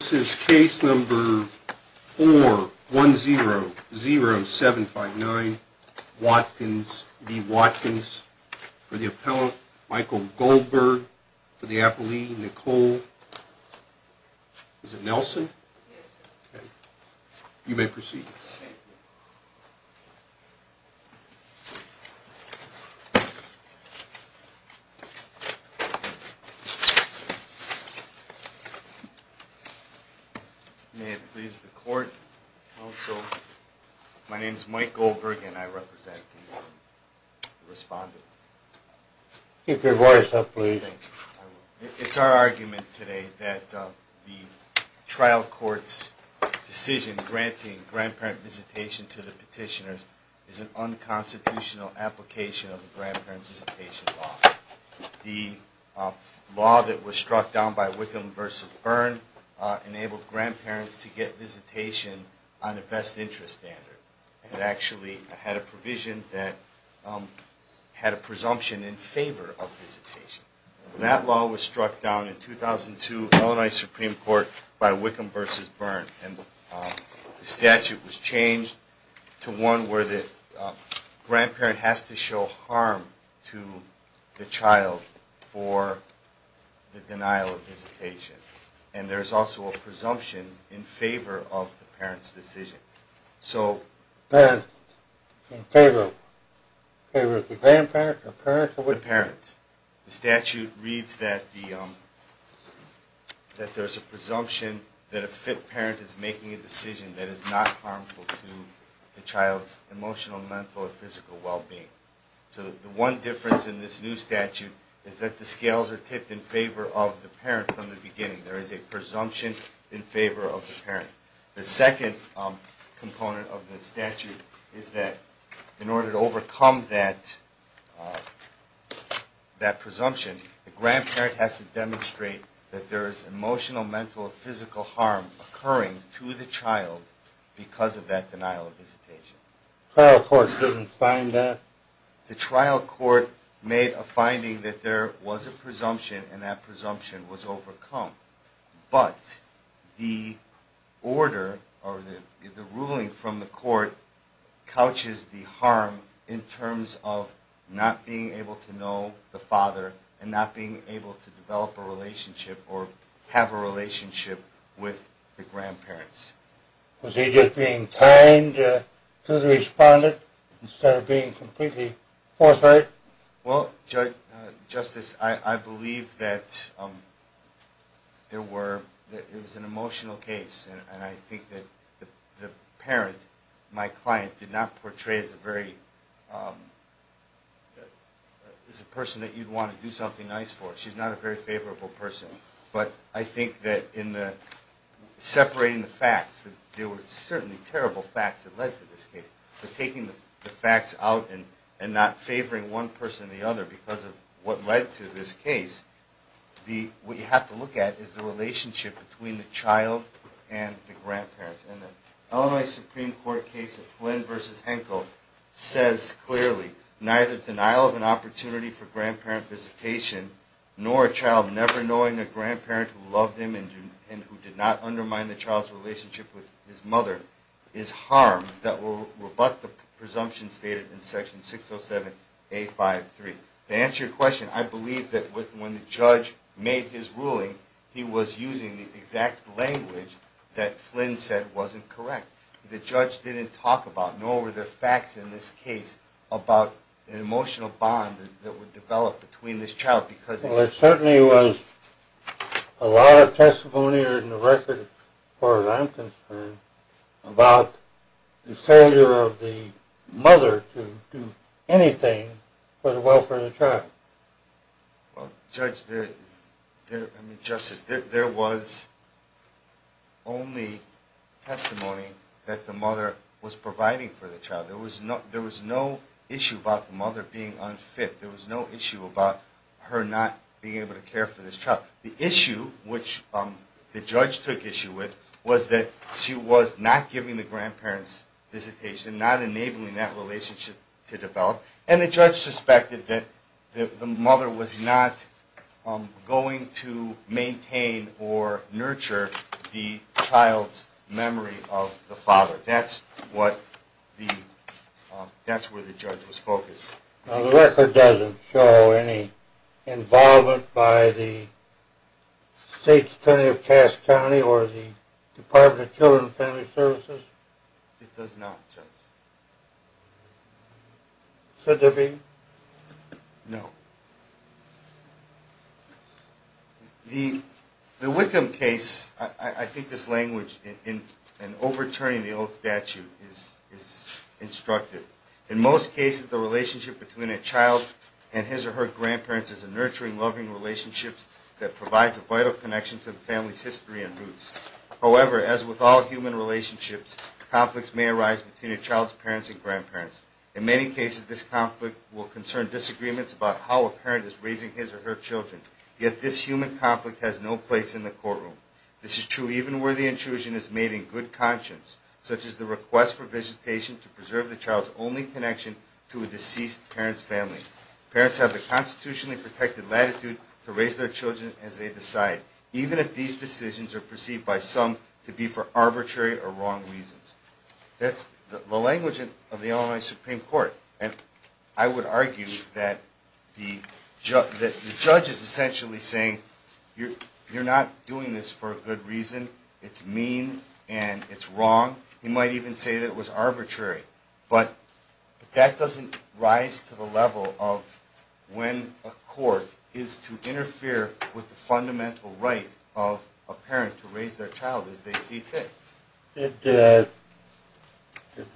This is case number 4100759, Watkins v. Watkins, for the appellant Michael Goldberg, for the appellee Nicole, is it Nelson? Yes, sir. Okay, you may proceed. May it please the court, counsel. My name is Michael Goldberg and I represent the respondent. Keep your voice up, please. It's our argument today that the trial court's decision granting grandparent visitation to the petitioners is an unconstitutional application of the grandparent visitation law. The law that was struck down by Wickham v. Byrne enabled grandparents to get visitation on a best interest standard. It actually had a provision that had a presumption in favor of visitation. That law was struck down in 2002, Illinois Supreme Court, by Wickham v. Byrne. And the statute was changed to one where the grandparent has to show harm to the child for the denial of visitation. And there's also a presumption in favor of the parent's decision. So, in favor of the grandparent or parents? The statute reads that there's a presumption that a fit parent is making a decision that is not harmful to the child's emotional, mental, or physical well-being. So, the one difference in this new statute is that the scales are tipped in favor of the parent from the beginning. There is a presumption in favor of the parent. The second component of the statute is that in order to overcome that presumption, the grandparent has to demonstrate that there is emotional, mental, or physical harm occurring to the child because of that denial of visitation. The trial court didn't find that? The trial court made a finding that there was a presumption and that presumption was overcome. But the order or the ruling from the court couches the harm in terms of not being able to know the father and not being able to develop a relationship or have a relationship with the grandparents. Was he just being kind to the respondent instead of being completely forthright? Well, Justice, I believe that it was an emotional case and I think that the parent, my client, did not portray as a person that you'd want to do something nice for. She's not a very favorable person. But I think that in separating the facts, there were certainly terrible facts that led to this case. But taking the facts out and not favoring one person or the other because of what led to this case, what you have to look at is the relationship between the child and the grandparents. And the Illinois Supreme Court case of Flynn v. Henkel says clearly, neither denial of an opportunity for grandparent visitation nor a child never knowing a grandparent who loved him and who did not undermine the child's relationship with his mother is harm that will rebut the presumption stated in Section 607A.5.3. To answer your question, I believe that when the judge made his ruling, he was using the exact language that Flynn said wasn't correct. The judge didn't talk about, nor were there facts in this case about an emotional bond that would develop between this child because… There certainly was a lot of testimony in the record, as far as I'm concerned, about the failure of the mother to do anything for the welfare of the child. Judge, there was only testimony that the mother was providing for the child. There was no issue about the mother being unfit. There was no issue about her not being able to care for this child. The issue, which the judge took issue with, was that she was not giving the grandparents visitation, not enabling that relationship to develop. And the judge suspected that the mother was not going to maintain or nurture the child's memory of the father. That's where the judge was focused. The record doesn't show any involvement by the State's Attorney of Cass County or the Department of Children and Family Services? It does not, Judge. Should there be? No. The Wickham case, I think this language in overturning the old statute is instructive. In most cases, the relationship between a child and his or her grandparents is a nurturing, loving relationship that provides a vital connection to the family's history and roots. However, as with all human relationships, conflicts may arise between a child's parents and grandparents. In many cases, this conflict will concern disagreements about how a parent is raising his or her children. Yet this human conflict has no place in the courtroom. This is true even where the intrusion is made in good conscience, such as the request for visitation to preserve the child's only connection to a deceased parent's family. Parents have the constitutionally protected latitude to raise their children as they decide, even if these decisions are perceived by some to be for arbitrary or wrong reasons. That's the language of the Illinois Supreme Court, and I would argue that the judge is essentially saying you're not doing this for a good reason, it's mean and it's wrong. He might even say that it was arbitrary, but that doesn't rise to the level of when a court is to interfere with the fundamental right of a parent to raise their child as they see fit. Did the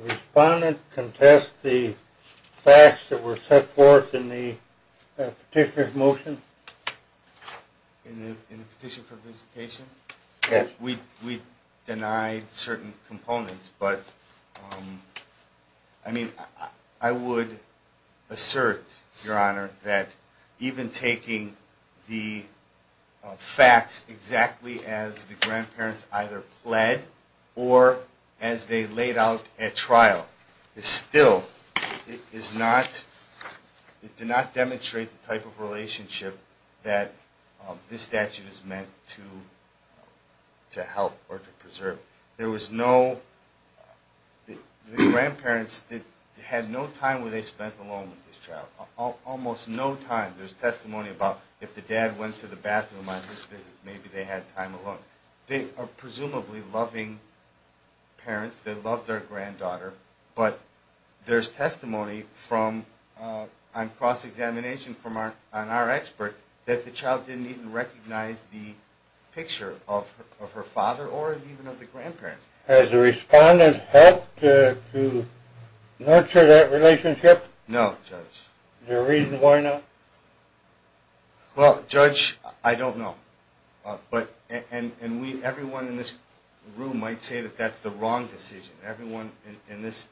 respondent contest the facts that were set forth in the petitioner's motion? In the petition for visitation? Yes. We denied certain components, but I mean, I would assert, Your Honor, that even taking the facts exactly as the grandparents either pled or as they laid out at trial, is still, is not, did not demonstrate the type of relationship that this statute is meant to help or to preserve. There was no, the grandparents had no time where they spent alone with this child. Almost no time. There's testimony about if the dad went to the bathroom on his visit, maybe they had time alone. They are presumably loving parents, they love their granddaughter, but there's testimony from, on cross-examination from our expert, that the child didn't even recognize the picture of her father or even of the grandparents. Has the respondent helped to nurture that relationship? No, Judge. Is there a reason why not? Well, Judge, I don't know. But, and we, everyone in this room might say that that's the wrong decision. Everyone in this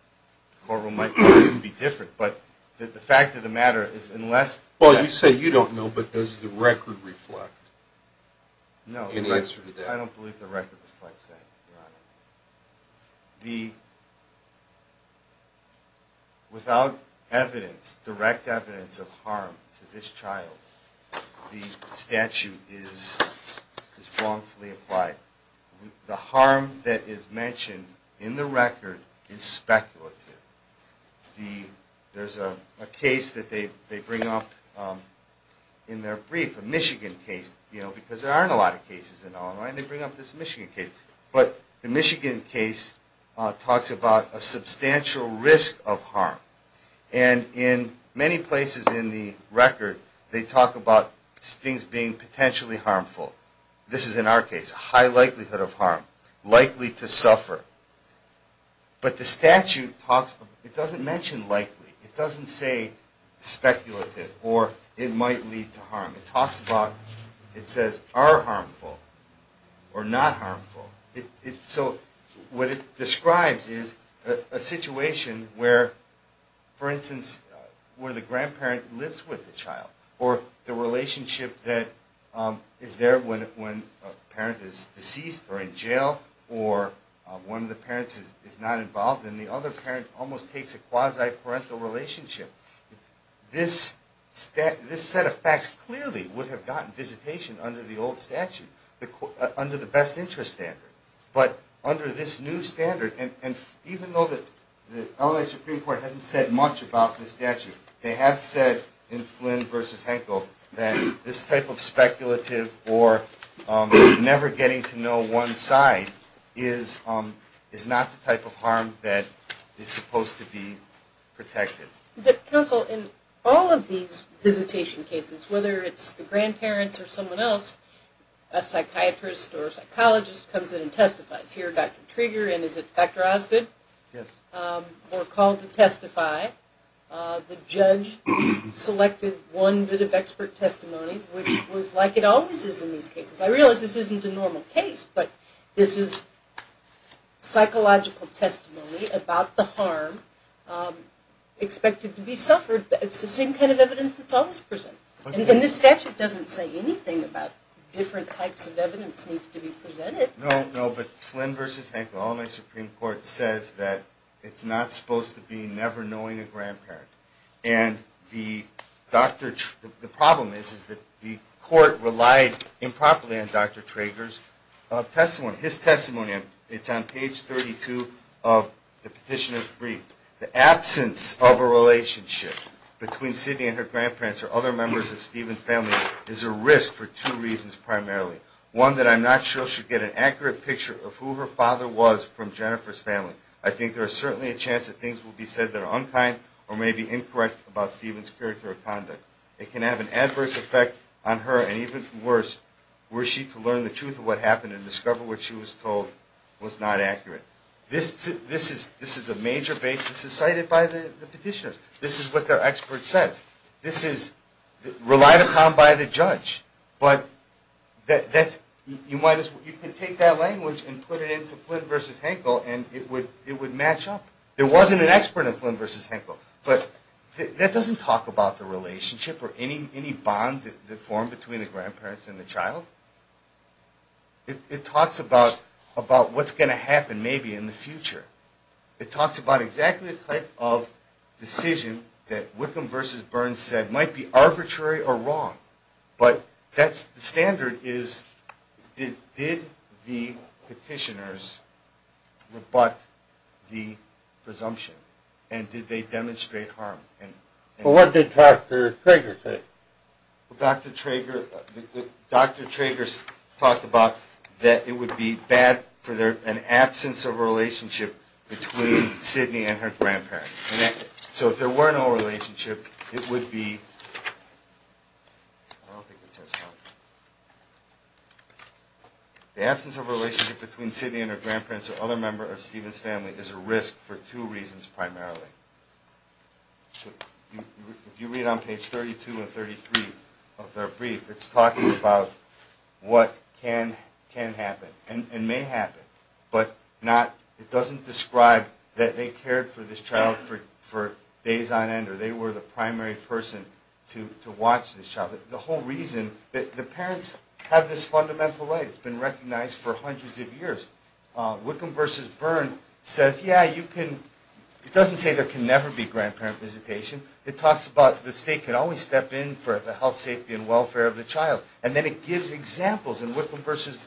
courtroom might be different, but the fact of the matter is unless... Well, you say you don't know, but does the record reflect any answer to that? No, I don't believe the record reflects that, Your Honor. The, without evidence, direct evidence of harm to this child, the statute is wrongfully applied. The harm that is mentioned in the record is speculative. The, there's a case that they bring up in their brief, a Michigan case, you know, because there aren't a lot of cases in Illinois, and they bring up this Michigan case. But the Michigan case talks about a substantial risk of harm. And in many places in the record, they talk about things being potentially harmful. This is in our case, a high likelihood of harm, likely to suffer. But the statute talks, it doesn't mention likely. It doesn't say speculative or it might lead to harm. It talks about, it says are harmful or not harmful. It, so what it describes is a situation where, for instance, where the grandparent lives with the child, or the relationship that is there when a parent is deceased or in jail, or one of the parents is not involved, and the other parent almost takes a quasi-parental relationship. This set of facts clearly would have gotten visitation under the old statute, under the best interest standard. But under this new standard, and even though the Illinois Supreme Court hasn't said much about this statute, they have said in Flynn v. Henkel that this type of speculative or never getting to know one side is not the type of harm that is supposed to be protected. But counsel, in all of these visitation cases, whether it's the grandparents or someone else, a psychiatrist or psychologist comes in and testifies. Here, Dr. Trigger and is it Dr. Osgood? Yes. Were called to testify. The judge selected one bit of expert testimony, which was like it always is in these cases. I realize this isn't a normal case, but this is psychological testimony about the harm expected to be suffered. It's the same kind of evidence that's always presented. And this statute doesn't say anything about different types of evidence needs to be presented. No, no, but Flynn v. Henkel, the Illinois Supreme Court says that it's not supposed to be never knowing a grandparent. And the problem is that the court relied improperly on Dr. Trigger's testimony. His testimony, it's on page 32 of the petitioner's brief. The absence of a relationship between Sidney and her grandparents or other members of Stephen's family is a risk for two reasons primarily. One, that I'm not sure she'll get an accurate picture of who her father was from Jennifer's family. I think there is certainly a chance that things will be said that are unkind or may be incorrect about Stephen's character or conduct. It can have an adverse effect on her and even worse, were she to learn the truth of what happened and discover what she was told was not accurate. This is a major basis cited by the petitioner. This is what their expert says. This is relied upon by the judge. But you can take that language and put it into Flynn v. Henkel and it would match up. There wasn't an expert in Flynn v. Henkel. But that doesn't talk about the relationship or any bond that formed between the grandparents and the child. It talks about what's going to happen maybe in the future. It talks about exactly the type of decision that Wickham v. Burns said might be arbitrary or wrong. But the standard is, did the petitioners rebut the presumption and did they demonstrate harm? What did Dr. Trager say? Dr. Trager talked about that it would be bad for an absence of a relationship between Sidney and her grandparents. So if there were no relationship, it would be... The absence of a relationship between Sidney and her grandparents or other members of Stephen's family is a risk for two reasons primarily. If you read on page 32 and 33 of their brief, it's talking about what can happen and may happen. It doesn't describe that they cared for this child for days on end or they were the primary person to watch this child. The whole reason... The parents have this fundamental right. It's been recognized for hundreds of years. Wickham v. Burns says, yeah, you can... It doesn't say there can never be grandparent visitation. It talks about the state can always step in for the health, safety and welfare of the child. And then it gives examples in Wickham v. Burns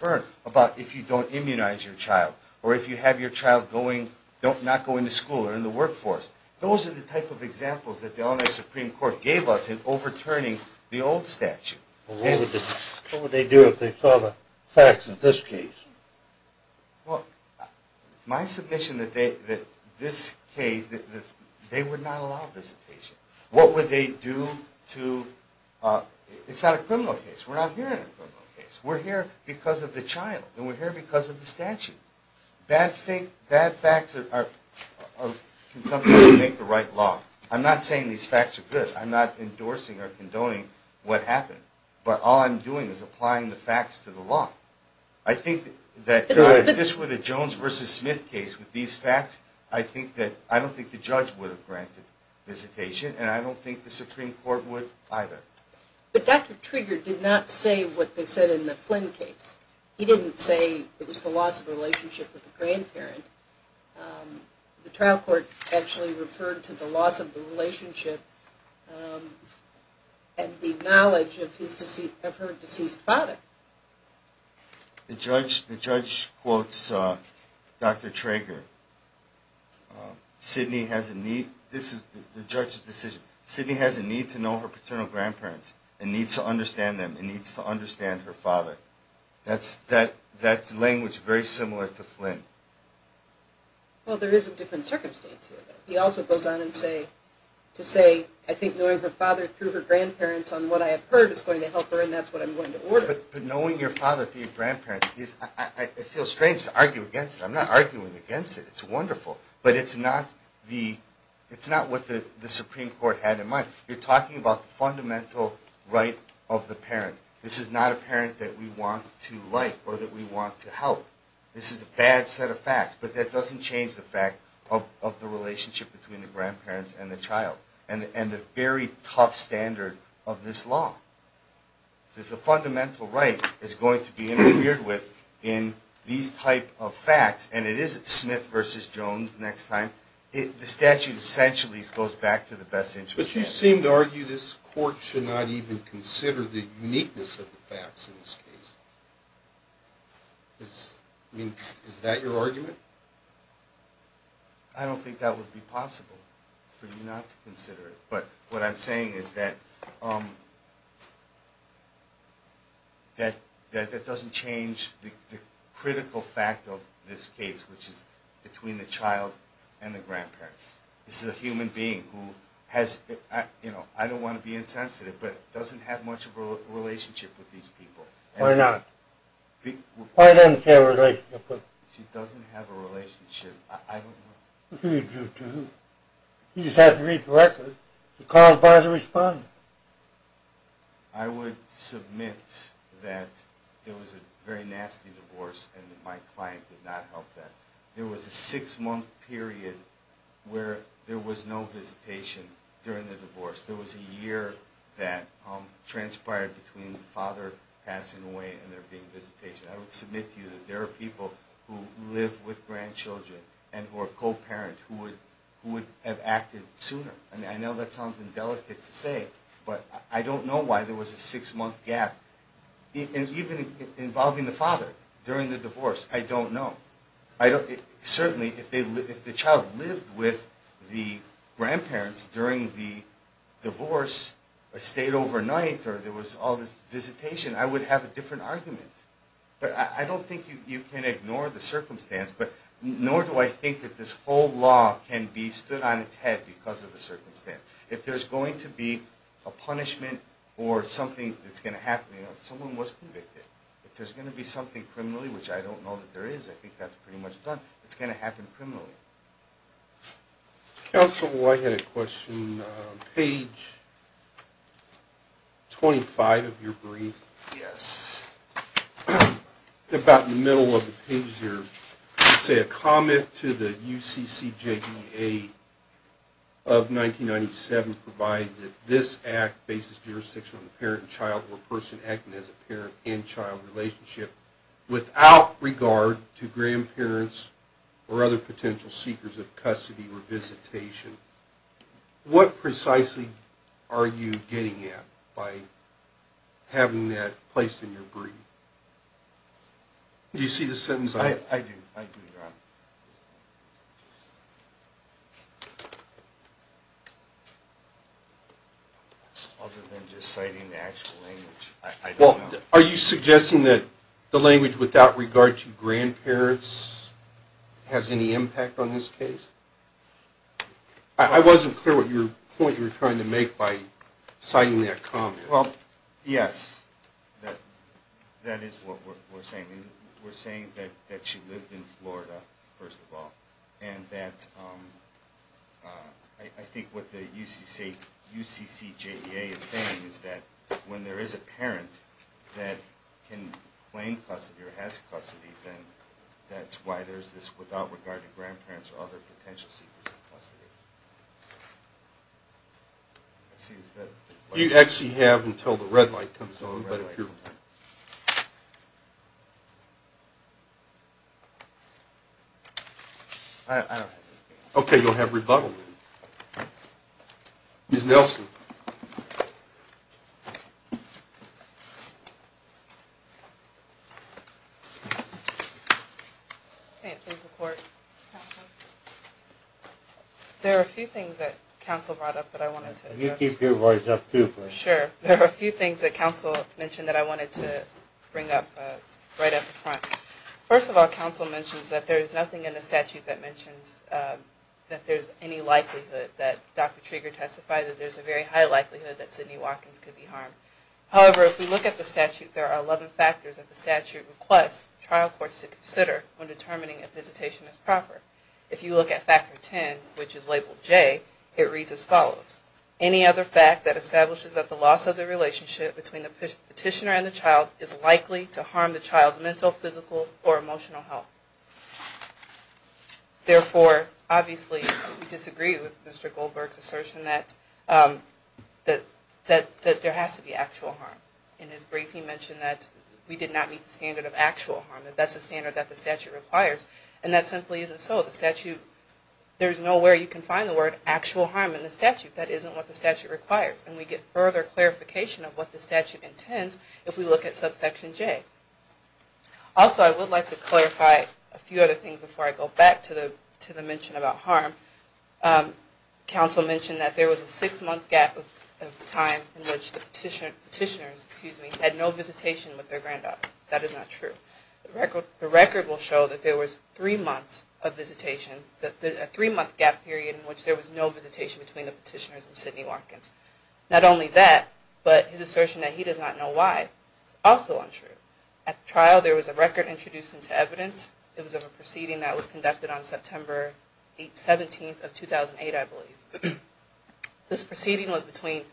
about if you don't immunize your child or if you have your child not going to school or in the workforce. Those are the type of examples that the Illinois Supreme Court gave us in overturning the old statute. What would they do if they saw the facts in this case? Well, my submission that this case... They would not allow visitation. What would they do to... It's not a criminal case. We're not here in a criminal case. We're here because of the child and we're here because of the statute. Bad facts can sometimes make the right law. I'm not saying these facts are good. I'm not endorsing or condoning what happened. But all I'm doing is applying the facts to the law. I think that if this were the Jones v. Smith case with these facts, I don't think the judge would have granted visitation and I don't think the Supreme Court would either. But Dr. Trager did not say what they said in the Flynn case. He didn't say it was the loss of relationship with the grandparent. The trial court actually referred to the loss of the relationship and the knowledge of her deceased father. The judge quotes Dr. Trager. Sidney has a need... This is the judge's decision. Sidney has a need to know her paternal grandparents and needs to understand them and needs to understand her father. That's language very similar to Flynn. Well, there is a different circumstance here. He also goes on to say, I think knowing her father through her grandparents on what I have heard is going to help her and that's what I'm going to order. But knowing your father through your grandparents, it feels strange to argue against it. I'm not arguing against it. It's wonderful. But it's not what the Supreme Court had in mind. You're talking about the fundamental right of the parent. This is not a parent that we want to like or that we want to help. This is a bad set of facts. But that doesn't change the fact of the relationship between the grandparents and the child and the very tough standard of this law. The fundamental right is going to be interfered with in these type of facts. And it isn't Smith v. Jones next time. The statute essentially goes back to the best interest. But you seem to argue this court should not even consider the uniqueness of the facts in this case. Is that your argument? I don't think that would be possible for you not to consider it. But what I'm saying is that that doesn't change the critical fact of this case, which is between the child and the grandparents. This is a human being who has, you know, I don't want to be insensitive, but doesn't have much of a relationship with these people. Why not? Why doesn't she have a relationship with them? She doesn't have a relationship. I don't know. You just have to read the record. The cause by the respondent. I would submit that there was a very nasty divorce and that my client did not help that. There was a six month period where there was no visitation during the divorce. There was a year that transpired between the father passing away and there being visitation. I would submit to you that there are people who live with grandchildren and who are co-parents who would have acted sooner. I know that sounds indelicate to say, but I don't know why there was a six month gap. Even involving the father during the divorce, I don't know. Certainly, if the child lived with the grandparents during the divorce, stayed overnight, or there was all this visitation, I would have a different argument. I don't think you can ignore the circumstance, nor do I think that this whole law can be stood on its head because of the circumstance. If there's going to be a punishment or something that's going to happen, someone was convicted. If there's going to be something criminally, which I don't know that there is, I think that's pretty much done, it's going to happen criminally. Counsel, I had a question. Page 25 of your brief. Yes. About in the middle of the page there, you say, A comment to the UCCJDA of 1997 provides that this Act bases jurisdiction on the parent and child or person acting as a parent and child relationship without regard to grandparents or other potential seekers of custody or visitation. What precisely are you getting at by having that placed in your brief? Do you see the sentence? I do. I do, Your Honor. Other than just citing the actual language, I don't know. Are you suggesting that the language without regard to grandparents has any impact on this case? I wasn't clear what your point you were trying to make by citing that comment. Well, yes. That is what we're saying. We're saying that she lived in Florida, first of all, and that I think what the UCCJDA is saying is that when there is a parent that can claim custody or has custody, then that's why there's this without regard to grandparents or other potential seekers of custody. You actually have until the red light comes on. Okay, you'll have rebuttal. Ms. Nelson. Okay, please report. There are a few things that counsel brought up that I wanted to address. Can you keep your voice up, too, please? Sure. There are a few things that counsel mentioned that I wanted to bring up right up front. First of all, counsel mentions that there is nothing in the statute that mentions that there's any likelihood that Dr. Trieger testified that there's a very high likelihood that Sidney Watkins could be harmed. However, if we look at the statute, there are 11 factors that the statute requests trial courts to consider when determining if visitation is proper. If you look at Factor 10, which is labeled J, it reads as follows. Any other fact that establishes that the loss of the relationship between the petitioner and the child is likely to harm the child's mental, physical, or emotional health. Therefore, obviously, we disagree with Mr. Goldberg's assertion that there has to be actual harm. In his briefing, he mentioned that we did not meet the standard of actual harm, that that's the standard that the statute requires. And that simply isn't so. The statute, there's nowhere you can find the word actual harm in the statute. That isn't what the statute requires. And we get further clarification of what the statute intends if we look at subsection J. Also, I would like to clarify a few other things before I go back to the mention about harm. Counsel mentioned that there was a six-month gap of time in which the petitioners had no visitation with their granddaughter. That is not true. The record will show that there was three months of visitation, a three-month gap period in which there was no visitation between the petitioners and Sidney Watkins. Not only that, but his assertion that he does not know why is also untrue. At the trial, there was a record introduced into evidence. It was of a proceeding that was conducted on September 17th of 2008, I believe. This proceeding was between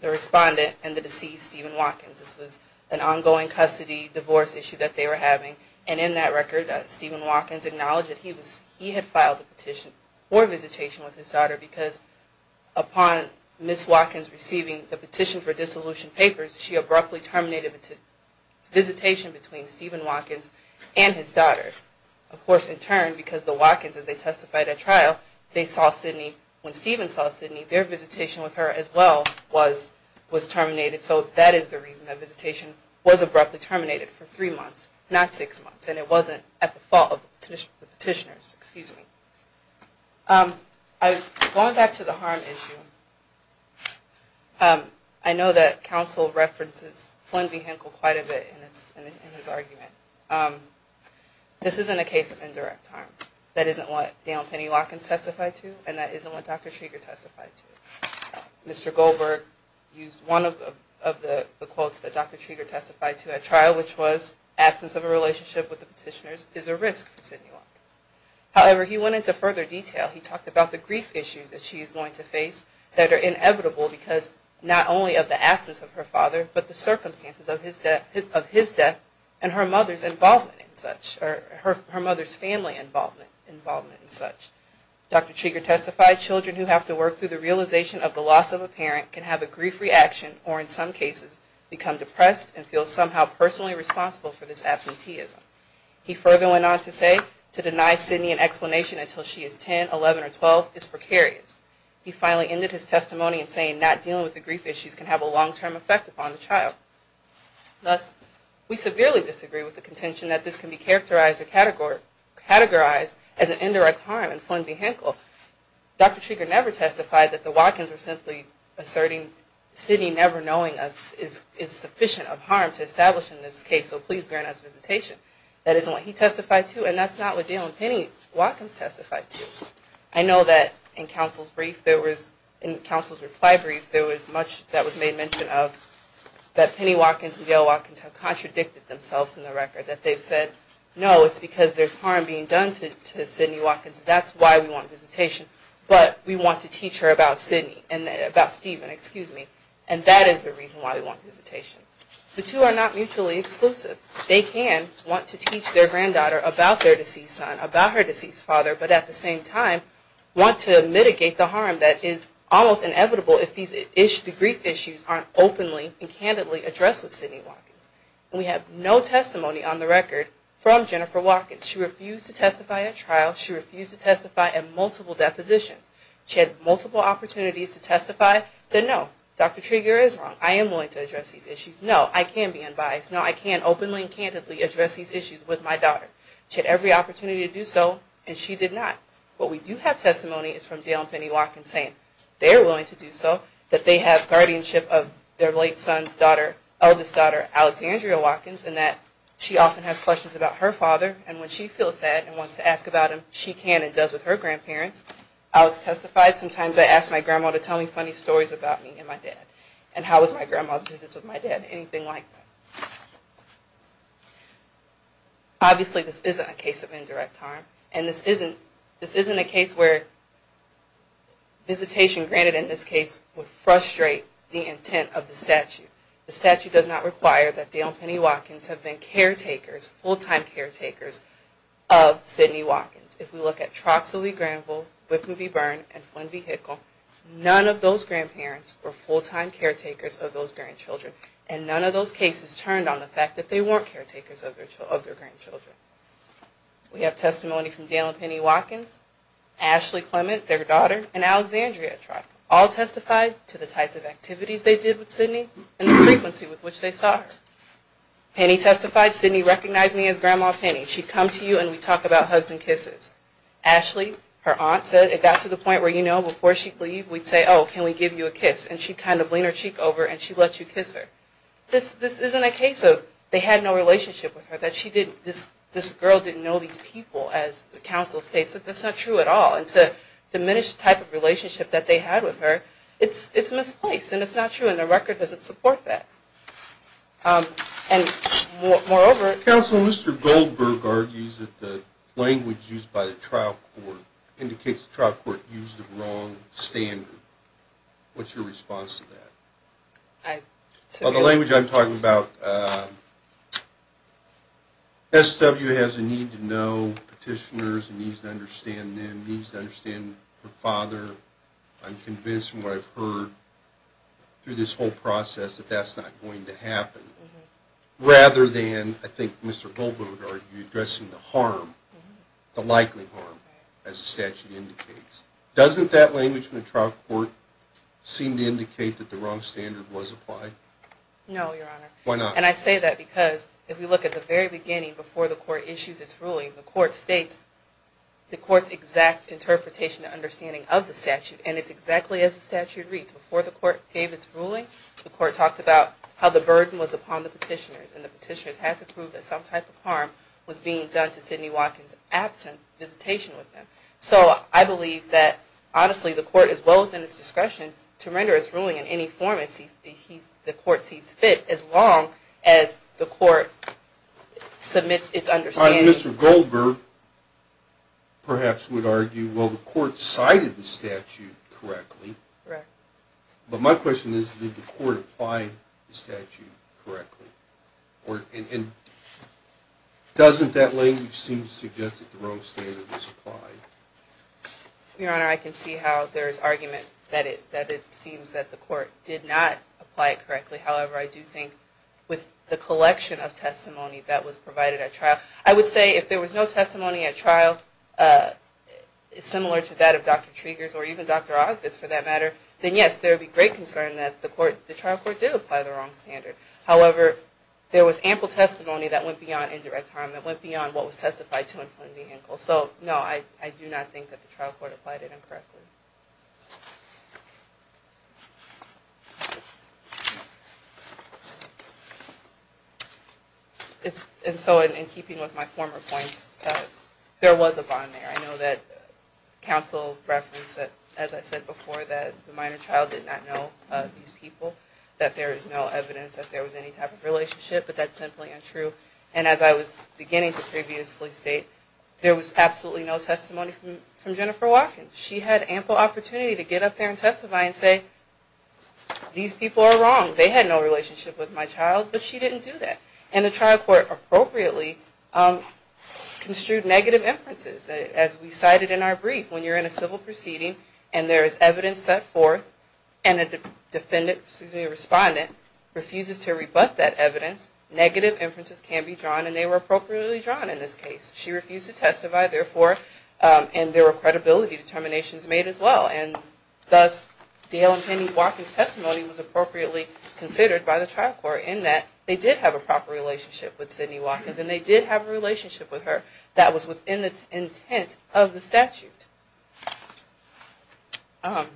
the respondent and the deceased, Stephen Watkins. This was an ongoing custody divorce issue that they were having. And in that record, Stephen Watkins acknowledged that he had filed a petition for visitation with his daughter because upon Ms. Watkins receiving the petition for dissolution papers, she abruptly terminated the visitation between Stephen Watkins and his daughter. Of course, in turn, because the Watkins, as they testified at trial, when Stephen saw Sidney, their visitation with her as well was terminated. So that is the reason that visitation was abruptly terminated for three months, not six months. And it wasn't at the fault of the petitioners. Going back to the harm issue, I know that counsel references Flynn v. Henkel quite a bit in his argument. This isn't a case of indirect harm. That isn't what Dale and Penny Watkins testified to, and that isn't what Dr. Trieger testified to. Mr. Goldberg used one of the quotes that Dr. Trieger testified to at trial, which was, absence of a relationship with the petitioners is a risk for Sidney Watkins. However, he went into further detail. He talked about the grief issues that she is going to face that are inevitable because not only of the absence of her father, but the circumstances of his death and her mother's involvement in such, or her mother's family involvement in such. Dr. Trieger testified, children who have to work through the realization of the loss of a parent can have a grief reaction or in some cases become depressed and feel somehow personally responsible for this absenteeism. He further went on to say, to deny Sidney an explanation until she is 10, 11, or 12 is precarious. He finally ended his testimony in saying not dealing with the grief issues can have a long-term effect upon the child. Thus, we severely disagree with the contention that this can be characterized or categorized as an indirect harm in Flynn v. Henkel. Dr. Trieger never testified that the Watkins were simply asserting, I mean, Sidney never knowing us is sufficient of harm to establish in this case, so please grant us visitation. That isn't what he testified to, and that's not what Dale and Penny Watkins testified to. I know that in counsel's reply brief there was much that was made mention of that Penny Watkins and Dale Watkins have contradicted themselves in the record. That they've said, no, it's because there's harm being done to Sidney Watkins. That's why we want visitation. But we want to teach her about Sidney, about Stephen, excuse me, and that is the reason why we want visitation. The two are not mutually exclusive. They can want to teach their granddaughter about their deceased son, about her deceased father, but at the same time want to mitigate the harm that is almost inevitable if the grief issues aren't openly and candidly addressed with Sidney Watkins. We have no testimony on the record from Jennifer Watkins. She refused to testify at trial. She refused to testify at multiple depositions. She had multiple opportunities to testify. Then, no, Dr. Treger is wrong. I am willing to address these issues. No, I can be unbiased. No, I can openly and candidly address these issues with my daughter. She had every opportunity to do so, and she did not. What we do have testimony is from Dale and Penny Watkins saying they're willing to do so, that they have guardianship of their late son's daughter, eldest daughter, Alexandria Watkins, and that she often has questions about her father, and when she feels sad and wants to ask about him, she can and does with her grandparents. Alex testified, sometimes I ask my grandma to tell me funny stories about me and my dad. And how was my grandma's visits with my dad? Anything like that. Obviously, this isn't a case of indirect harm, and this isn't a case where visitation, granted in this case, would frustrate the intent of the statute. The statute does not require that Dale and Penny Watkins have been caretakers, full-time caretakers, of Sidney Watkins. If we look at Troxel E. Granville, Whitman v. Byrne, and Flynn v. Hickle, none of those grandparents were full-time caretakers of those grandchildren, and none of those cases turned on the fact that they weren't caretakers of their grandchildren. We have testimony from Dale and Penny Watkins, Ashley Clement, their daughter, and Alexandria Trox, all testified to the types of activities they did with Sidney and the frequency with which they saw her. Penny testified, Sidney recognized me as Grandma Penny. She'd come to you and we'd talk about hugs and kisses. Ashley, her aunt, said, it got to the point where, you know, before she'd leave, we'd say, oh, can we give you a kiss? And she'd kind of lean her cheek over and she'd let you kiss her. This isn't a case of they had no relationship with her, that this girl didn't know these people, as the counsel states. That's not true at all. And to diminish the type of relationship that they had with her, it's misplaced and it's not true. And the record doesn't support that. And moreover, Counsel, Mr. Goldberg argues that the language used by the trial court indicates the trial court used the wrong standard. What's your response to that? Well, the language I'm talking about, SW has a need to know petitioners, and needs to understand them, needs to understand her father. I'm convinced from what I've heard through this whole process that that's not going to happen. Rather than, I think Mr. Goldberg would argue, addressing the harm, the likely harm, as the statute indicates. Doesn't that language in the trial court seem to indicate that the wrong standard was applied? No, Your Honor. Why not? And I say that because if we look at the very beginning, before the court issues its ruling, the court states the court's exact interpretation and understanding of the statute. And it's exactly as the statute reads. Before the court gave its ruling, the court talked about how the burden was upon the petitioners. And the petitioners had to prove that some type of harm was being done to Sidney Watkins absent visitation with him. So I believe that, honestly, the court is well within its discretion to render its ruling in any form as long as the court submits its understanding. Mr. Goldberg, perhaps, would argue, well, the court cited the statute correctly. But my question is, did the court apply the statute correctly? And doesn't that language seem to suggest that the wrong standard was applied? Your Honor, I can see how there is argument that it seems that the court did not apply it correctly. However, I do think with the collection of testimony that was provided at trial, I would say if there was no testimony at trial similar to that of Dr. Triggers or even Dr. Osbitz, for that matter, then yes, there would be great concern that the trial court did apply the wrong standard. However, there was ample testimony that went beyond indirect harm, that went beyond what was testified to in Flynn v. Henkel. So, no, I do not think that the trial court applied it incorrectly. And so, in keeping with my former points, there was a bond there. I know that counsel referenced, as I said before, that the minor child did not know these people, that there is no evidence that there was any type of relationship, but that's simply untrue. And as I was beginning to previously state, there was absolutely no testimony from Jennifer Watkins. She had ample opportunity to get up there and testify and say, these people are wrong. They had no relationship with my child, but she didn't do that. And the trial court appropriately construed negative inferences. As we cited in our brief, when you're in a civil proceeding and there is evidence set forth and a defendant, excuse me, a respondent, refuses to rebut that evidence, negative inferences can be drawn and they were appropriately drawn in this case. She refused to testify, therefore, and there were credibility determinations made as well. And thus, Dale and Penny Watkins' testimony was appropriately considered by the trial court in that they did have a proper relationship with Sidney Watkins and they did have a relationship with her that was within the intent of the statute. I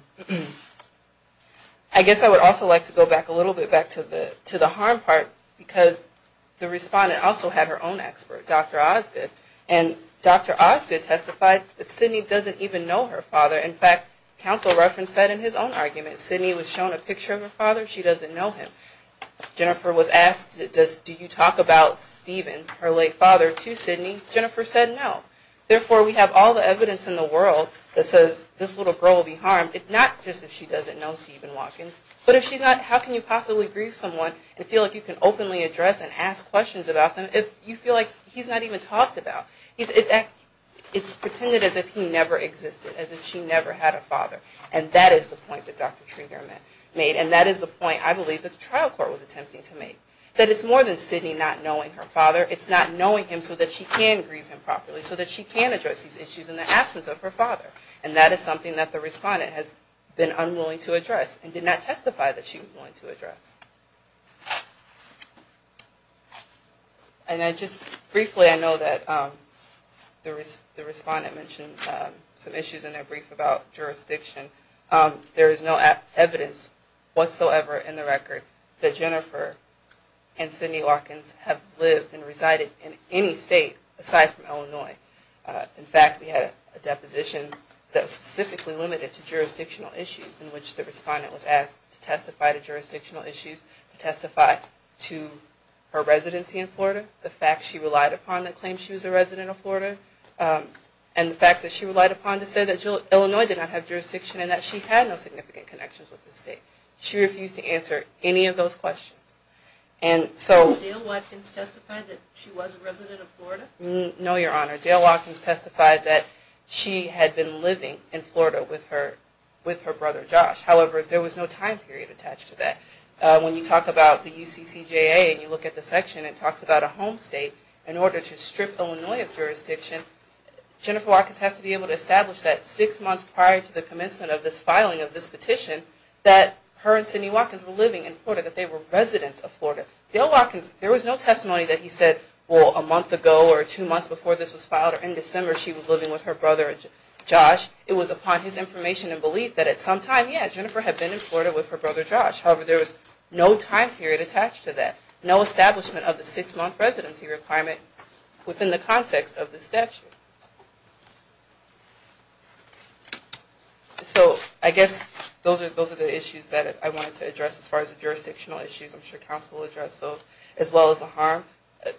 guess I would also like to go back a little bit, back to the harm part, because the respondent also had her own expert, Dr. Osgood, and Dr. Osgood testified that Sidney doesn't even know her father. In fact, counsel referenced that in his own argument. Sidney was shown a picture of her father, she doesn't know him. Jennifer was asked, do you talk about Stephen, her late father, to Sidney? Jennifer said no. Therefore, we have all the evidence in the world that says this little girl will be harmed, not just if she doesn't know Stephen Watkins, but if she's not, how can you possibly grieve someone and feel like you can openly address and ask questions about them if you feel like he's not even talked about? It's pretended as if he never existed, as if she never had a father, and that is the point that Dr. Treger made, and that is the point, I believe, that the trial court was attempting to make, that it's more than Sidney not knowing her father, it's not knowing him so that she can grieve him properly, so that she can address these issues in the absence of her father, and that is something that the respondent has been unwilling to address and did not testify that she was willing to address. And just briefly, I know that the respondent mentioned some issues in their brief about jurisdiction. There is no evidence whatsoever in the record that Jennifer and Sidney Watkins have lived and resided in any state aside from Illinois. In fact, we had a deposition that was specifically limited to jurisdictional issues in which the respondent was asked to testify to jurisdictional issues, to testify to her residency in Florida, the fact she relied upon the claim she was a resident of Florida, and the fact that she relied upon to say that Illinois did not have jurisdiction and that she had no significant connections with the state. She refused to answer any of those questions. Did Dale Watkins testify that she was a resident of Florida? No, Your Honor. Dale Watkins testified that she had been living in Florida with her brother, Josh. However, there was no time period attached to that. When you talk about the UCCJA and you look at the section, it talks about a home state. In order to strip Illinois of jurisdiction, Jennifer Watkins has to be able to establish that six months prior to the commencement of this filing of this petition that her and Sidney Watkins were living in Florida, that they were residents of Florida. Dale Watkins, there was no testimony that he said, well, a month ago or two months before this was filed or in December she was living with her brother, Josh. It was upon his information and belief that at some time, yeah, Jennifer had been in Florida with her brother, Josh. However, there was no time period attached to that. No establishment of the six-month residency requirement within the context of the statute. So, I guess those are the issues that I wanted to address as far as the jurisdictional issues. I'm sure counsel will address those, as well as the harm.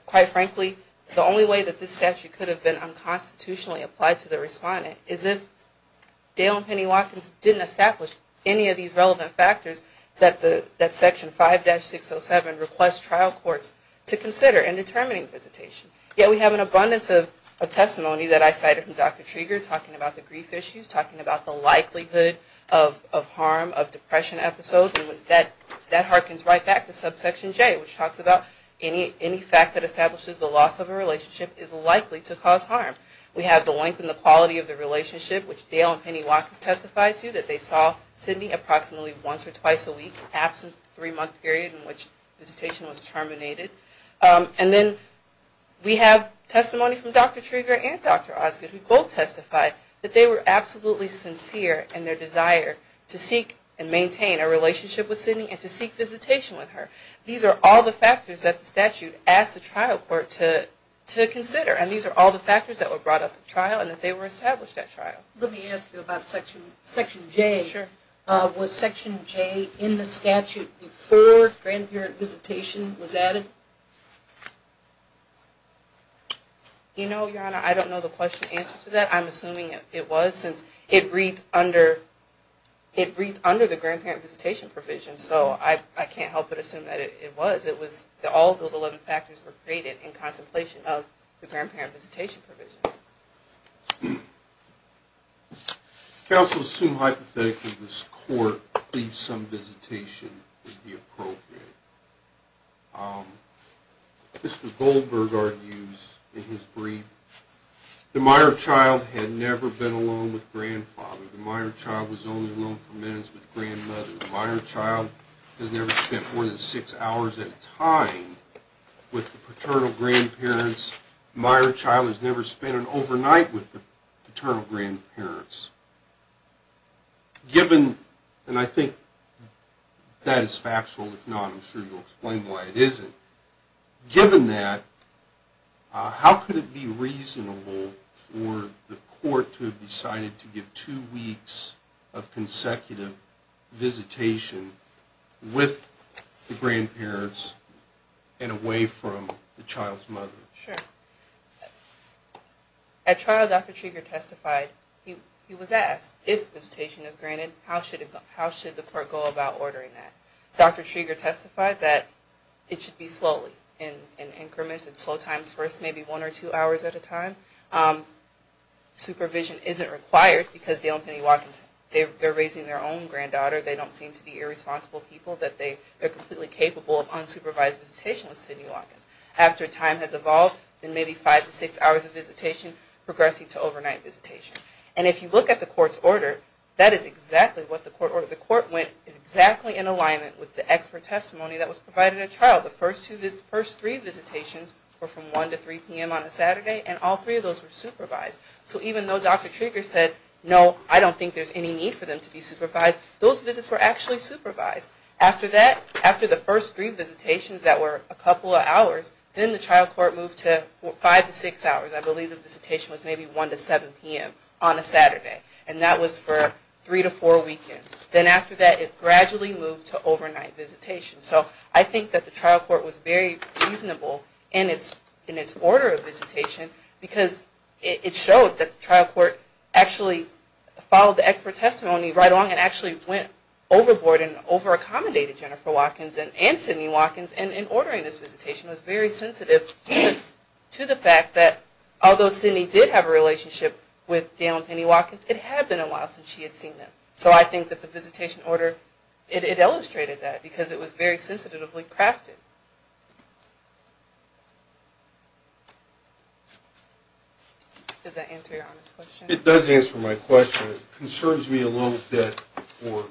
Quite frankly, the only way that this statute could have been unconstitutionally applied to the respondent is if Dale and Penny Watkins didn't establish any of these relevant factors that Section 5-607 requests trial courts to consider in determining visitation. Yet, we have an abundance of testimony that I cited from Dr. Trieger, talking about the grief issues, talking about the likelihood of harm, of depression episodes, and that harkens right back to subsection J, which talks about any fact that establishes the loss of a relationship is likely to cause harm. We have the length and the quality of the relationship, which Dale and Penny Watkins testified to, that they saw Sidney approximately once or twice a week, absent three-month period in which visitation was terminated. And then we have testimony from Dr. Trieger and Dr. Osgood, who both testified that they were absolutely sincere in their desire to seek and maintain a relationship with Sidney and to seek visitation with her. These are all the factors that the statute asked the trial court to consider, and these are all the factors that were brought up in trial and that they were established at trial. Let me ask you about Section J. Sure. Was Section J in the statute before grandparent visitation was added? You know, Your Honor, I don't know the question and answer to that. I'm assuming it was, since it reads under the grandparent visitation provision, so I can't help but assume that it was. It was that all those 11 factors were created in contemplation of the grandparent visitation provision. Counsel assumed hypothetically this court believes some visitation would be appropriate. Mr. Goldberg argues in his brief the minor child had never been alone with grandfather. The minor child was only alone for minutes with grandmother. The minor child has never spent more than six hours at a time with the paternal grandparents. The minor child has never spent an overnight with the paternal grandparents. Given, and I think that is factual. If not, I'm sure you'll explain why it isn't. Given that, how could it be reasonable for the court to have decided to give two weeks of consecutive visitation with the grandparents and away from the child's mother? At trial, Dr. Trieger testified he was asked, if visitation is granted, how should the court go about ordering that? Dr. Trieger testified that it should be slowly in increments and slow times for maybe one or two hours at a time. Supervision isn't required because Dale and Penny Watkins are raising their own granddaughter. They don't seem to be irresponsible people. They are completely capable of unsupervised visitation with Penny Watkins. After time has evolved, maybe five to six hours of visitation progressing to overnight visitation. If you look at the court's order, the court went exactly in alignment with the expert testimony The first three visitations were from 1 to 3 p.m. on a Saturday and all three of those were supervised. So even though Dr. Trieger said, no, I don't think there's any need for them to be supervised, those visits were actually supervised. After that, after the first three visitations that were a couple of hours, then the trial court moved to five to six hours. I believe the visitation was maybe 1 to 7 p.m. on a Saturday and that was for three to four weekends. Then after that, it gradually moved to overnight visitation. So I think that the trial court was very reasonable in its order of visitation because it showed that the trial court actually followed the expert testimony right along and actually went overboard and over-accommodated Jennifer Watkins and Sidney Watkins and in ordering this visitation was very sensitive to the fact that although Sidney did have a relationship with Dale and Penny Watkins, it had been a while since she had seen them. So I think that the visitation order, it illustrated that because it was very sensitively crafted. Does that answer your Honor's question? It does answer my question. It concerns me a little bit for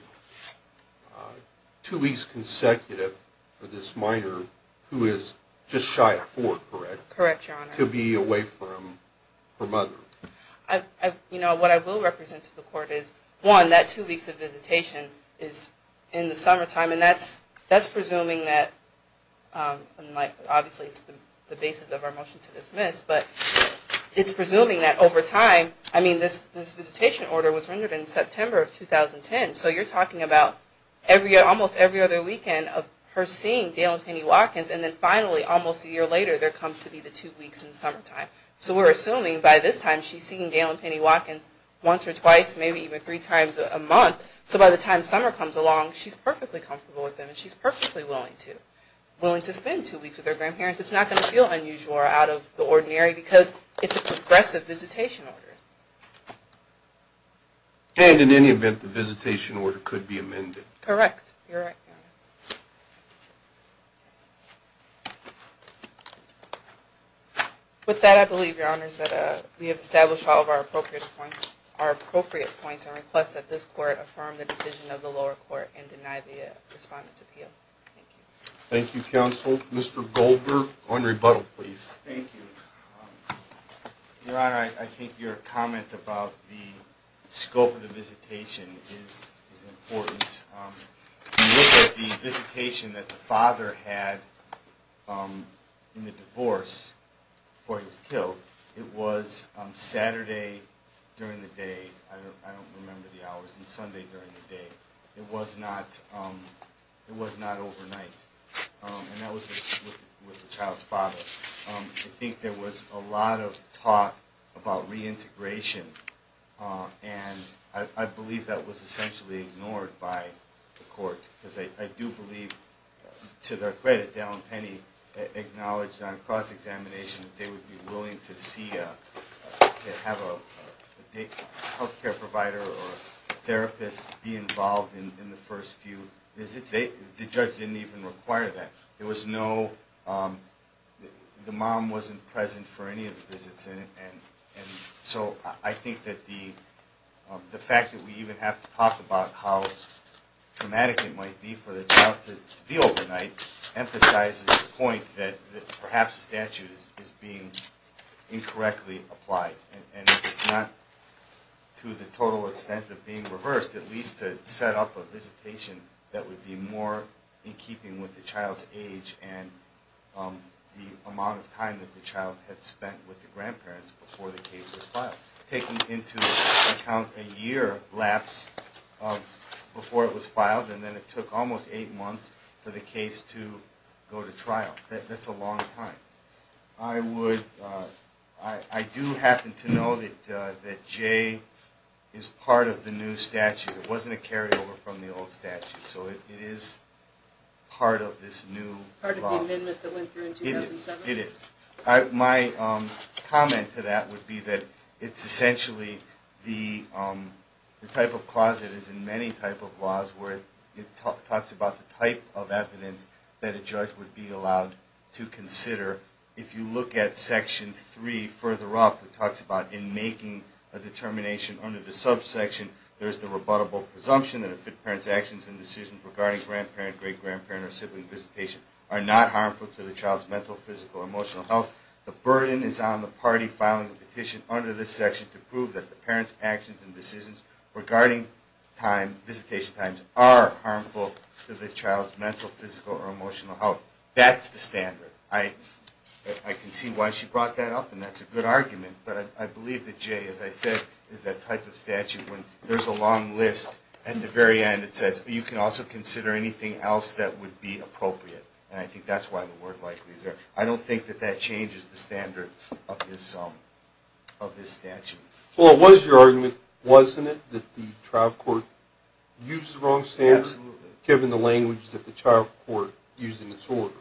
two weeks consecutive for this minor who is just shy of four, correct? Correct, Your Honor. To be away from her mother. You know, what I will represent to the court is, one, that two weeks of visitation is in the summertime and that's presuming that obviously it's not a basis of our motion to dismiss, but it's presuming that over time, I mean this visitation order was rendered in September of 2010 so you're talking about almost every other weekend of her seeing Dale and Penny Watkins and then finally almost a year later there comes to be the two weeks in the summertime. So we're assuming by this time she's seen Dale and Penny Watkins once or twice, maybe even three times a month. So by the time summer comes along, she's perfectly comfortable with them and she's perfectly willing to spend two weeks with her grandparents. It's not going to feel unusual or out of the ordinary because it's a progressive visitation order. And in any event, the visitation order could be amended. Correct. With that, I believe, Your Honors, that we have established all of our appropriate points and request that this court affirm the decision of the lower court and deny the respondent's appeal. Thank you. Thank you, Counsel. Mr. Goldberg on rebuttal, please. Thank you. Your Honor, I think your comment about the scope of the visitation is important. If you look at the visitation that the father had in the divorce before he was killed, it was Saturday during the day. I don't remember the hours. It was Sunday during the day. It was not overnight. And that was with the child's father. I think there was a lot of talk about reintegration and I believe that was essentially ignored by the court because I do believe to their credit, Dale and Penny acknowledged on cross-examination that they would be willing to see to have a health care provider or therapist be involved in the first few visits. The judge didn't even require that. There was no the mom wasn't present for any of the visits and so I think that the fact that we even have to talk about how traumatic it might be for the child to be overnight emphasizes the point that perhaps the statute is being incorrectly applied and it's not to the total extent of being reversed, at least to set up a visitation that would be more in keeping with the child's age and the amount of time that the child had spent with the grandparents before the case was filed, taking into account a year lapse of before it was filed and then it took almost eight months for the case to go to trial. That's a long time. I would I do happen to know that Jay is part of the new statute. It wasn't a carryover from the old statute so it is part of this new law. Part of the amendment that went through in 2007? It is. My comment to that would be that it's essentially the type of clause that is in many type of laws where it talks about the type of evidence that a judge would be allowed to consider if you look at Section 3 further up, it talks about in making a determination under the subsection, there's the rebuttable presumption that a parent's actions and decisions regarding grandparent, great-grandparent, or sibling visitation are not harmful to the child's mental, physical, or emotional health. The burden is on the party filing the petition under this section to prove that the parent's actions and decisions regarding visitation times are harmful to the child's mental, physical, or emotional health. That's the standard. I can see why she brought that up and that's a good argument, but I believe that Jay, as I said, is that type of statute when there's a long list and at the very end it says you can also consider anything else that would be appropriate and I think that's why the word likely is there. I don't think that that changes the standard of this statute. Was your argument, wasn't it, that the trial court used the wrong standards given the language that the trial court used in its order?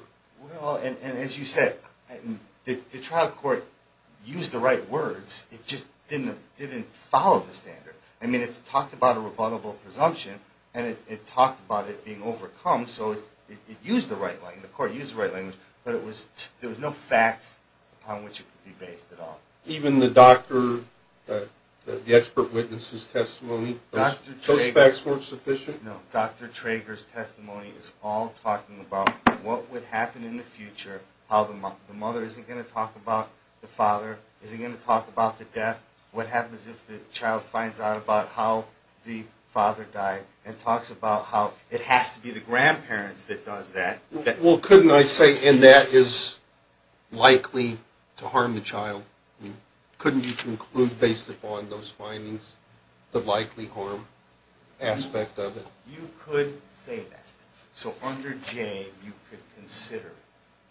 Well, and as you said, the trial court used the right words, it just didn't follow the standard. I mean, it talked about a rebuttable presumption and it talked about it being overcome, so it used the right language, the court used the right language, but there was no facts on which it could be based at all. Even the doctor, the expert witness' testimony, those facts weren't sufficient? No, Dr. Trager's testimony is all talking about what would happen in the future, how the mother isn't going to talk about the father, isn't going to talk about the death, what happens if the child finds out about how the father died, and talks about how it has to be the grandparents that does that. Well, couldn't I say, and that is likely to harm the child, couldn't you conclude based upon those findings the likely harm aspect of it? You could say that. So under Jay, you could consider it.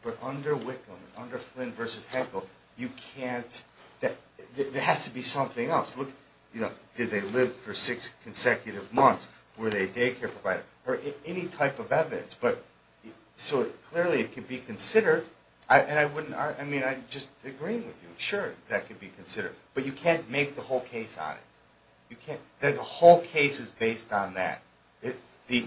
But under Wickham, under Flynn v. Heckel, you can't, there has to be something else. Did they live for six consecutive months, were they a daycare provider, or any type of evidence, but so clearly it could be considered and I wouldn't, I mean, I'm just agreeing with you, sure, that could be considered, but you can't make the whole case on it. You can't, the whole case is based on that. The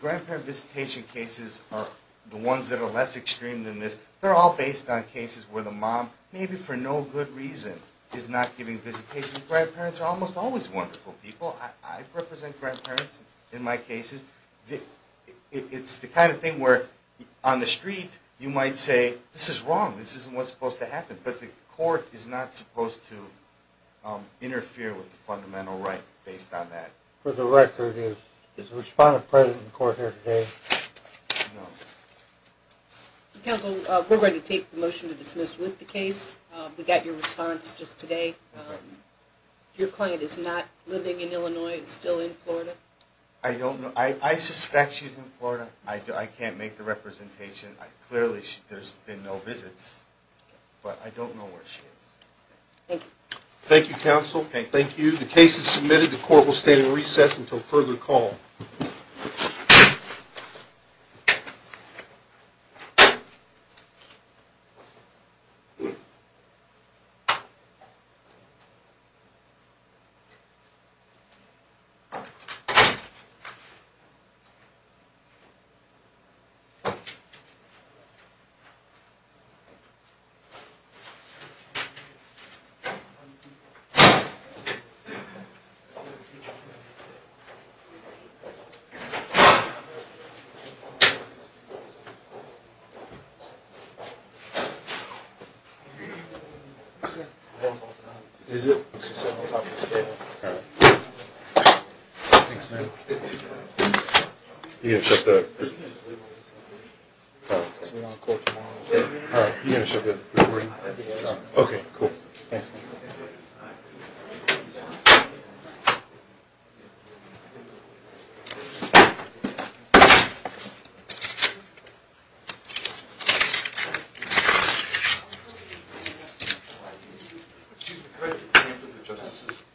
grandparent visitation cases are the ones that are less extreme than this. They're all based on cases where the mom maybe for no good reason is not giving visitations. Grandparents are almost always wonderful people. I represent grandparents in my cases. It's the kind of thing where on the street you might say, this is wrong, this isn't what's supposed to happen, but the grandparents might interfere with the fundamental right based on that. For the record, is the respondent present in court here today? No. Counsel, we're going to take the motion to dismiss with the case. We got your response just today. Your client is not living in Illinois, is still in Florida? I don't know. I suspect she's in Florida. I can't make the representation. Clearly there's been no visits, but I thank you, counsel, and thank you. The case is submitted. The court will stand in recess until further call. Is it? Thanks, man. You're going to shut the... Alright. You're going to shut the recording? Okay. Cool. Thanks, man.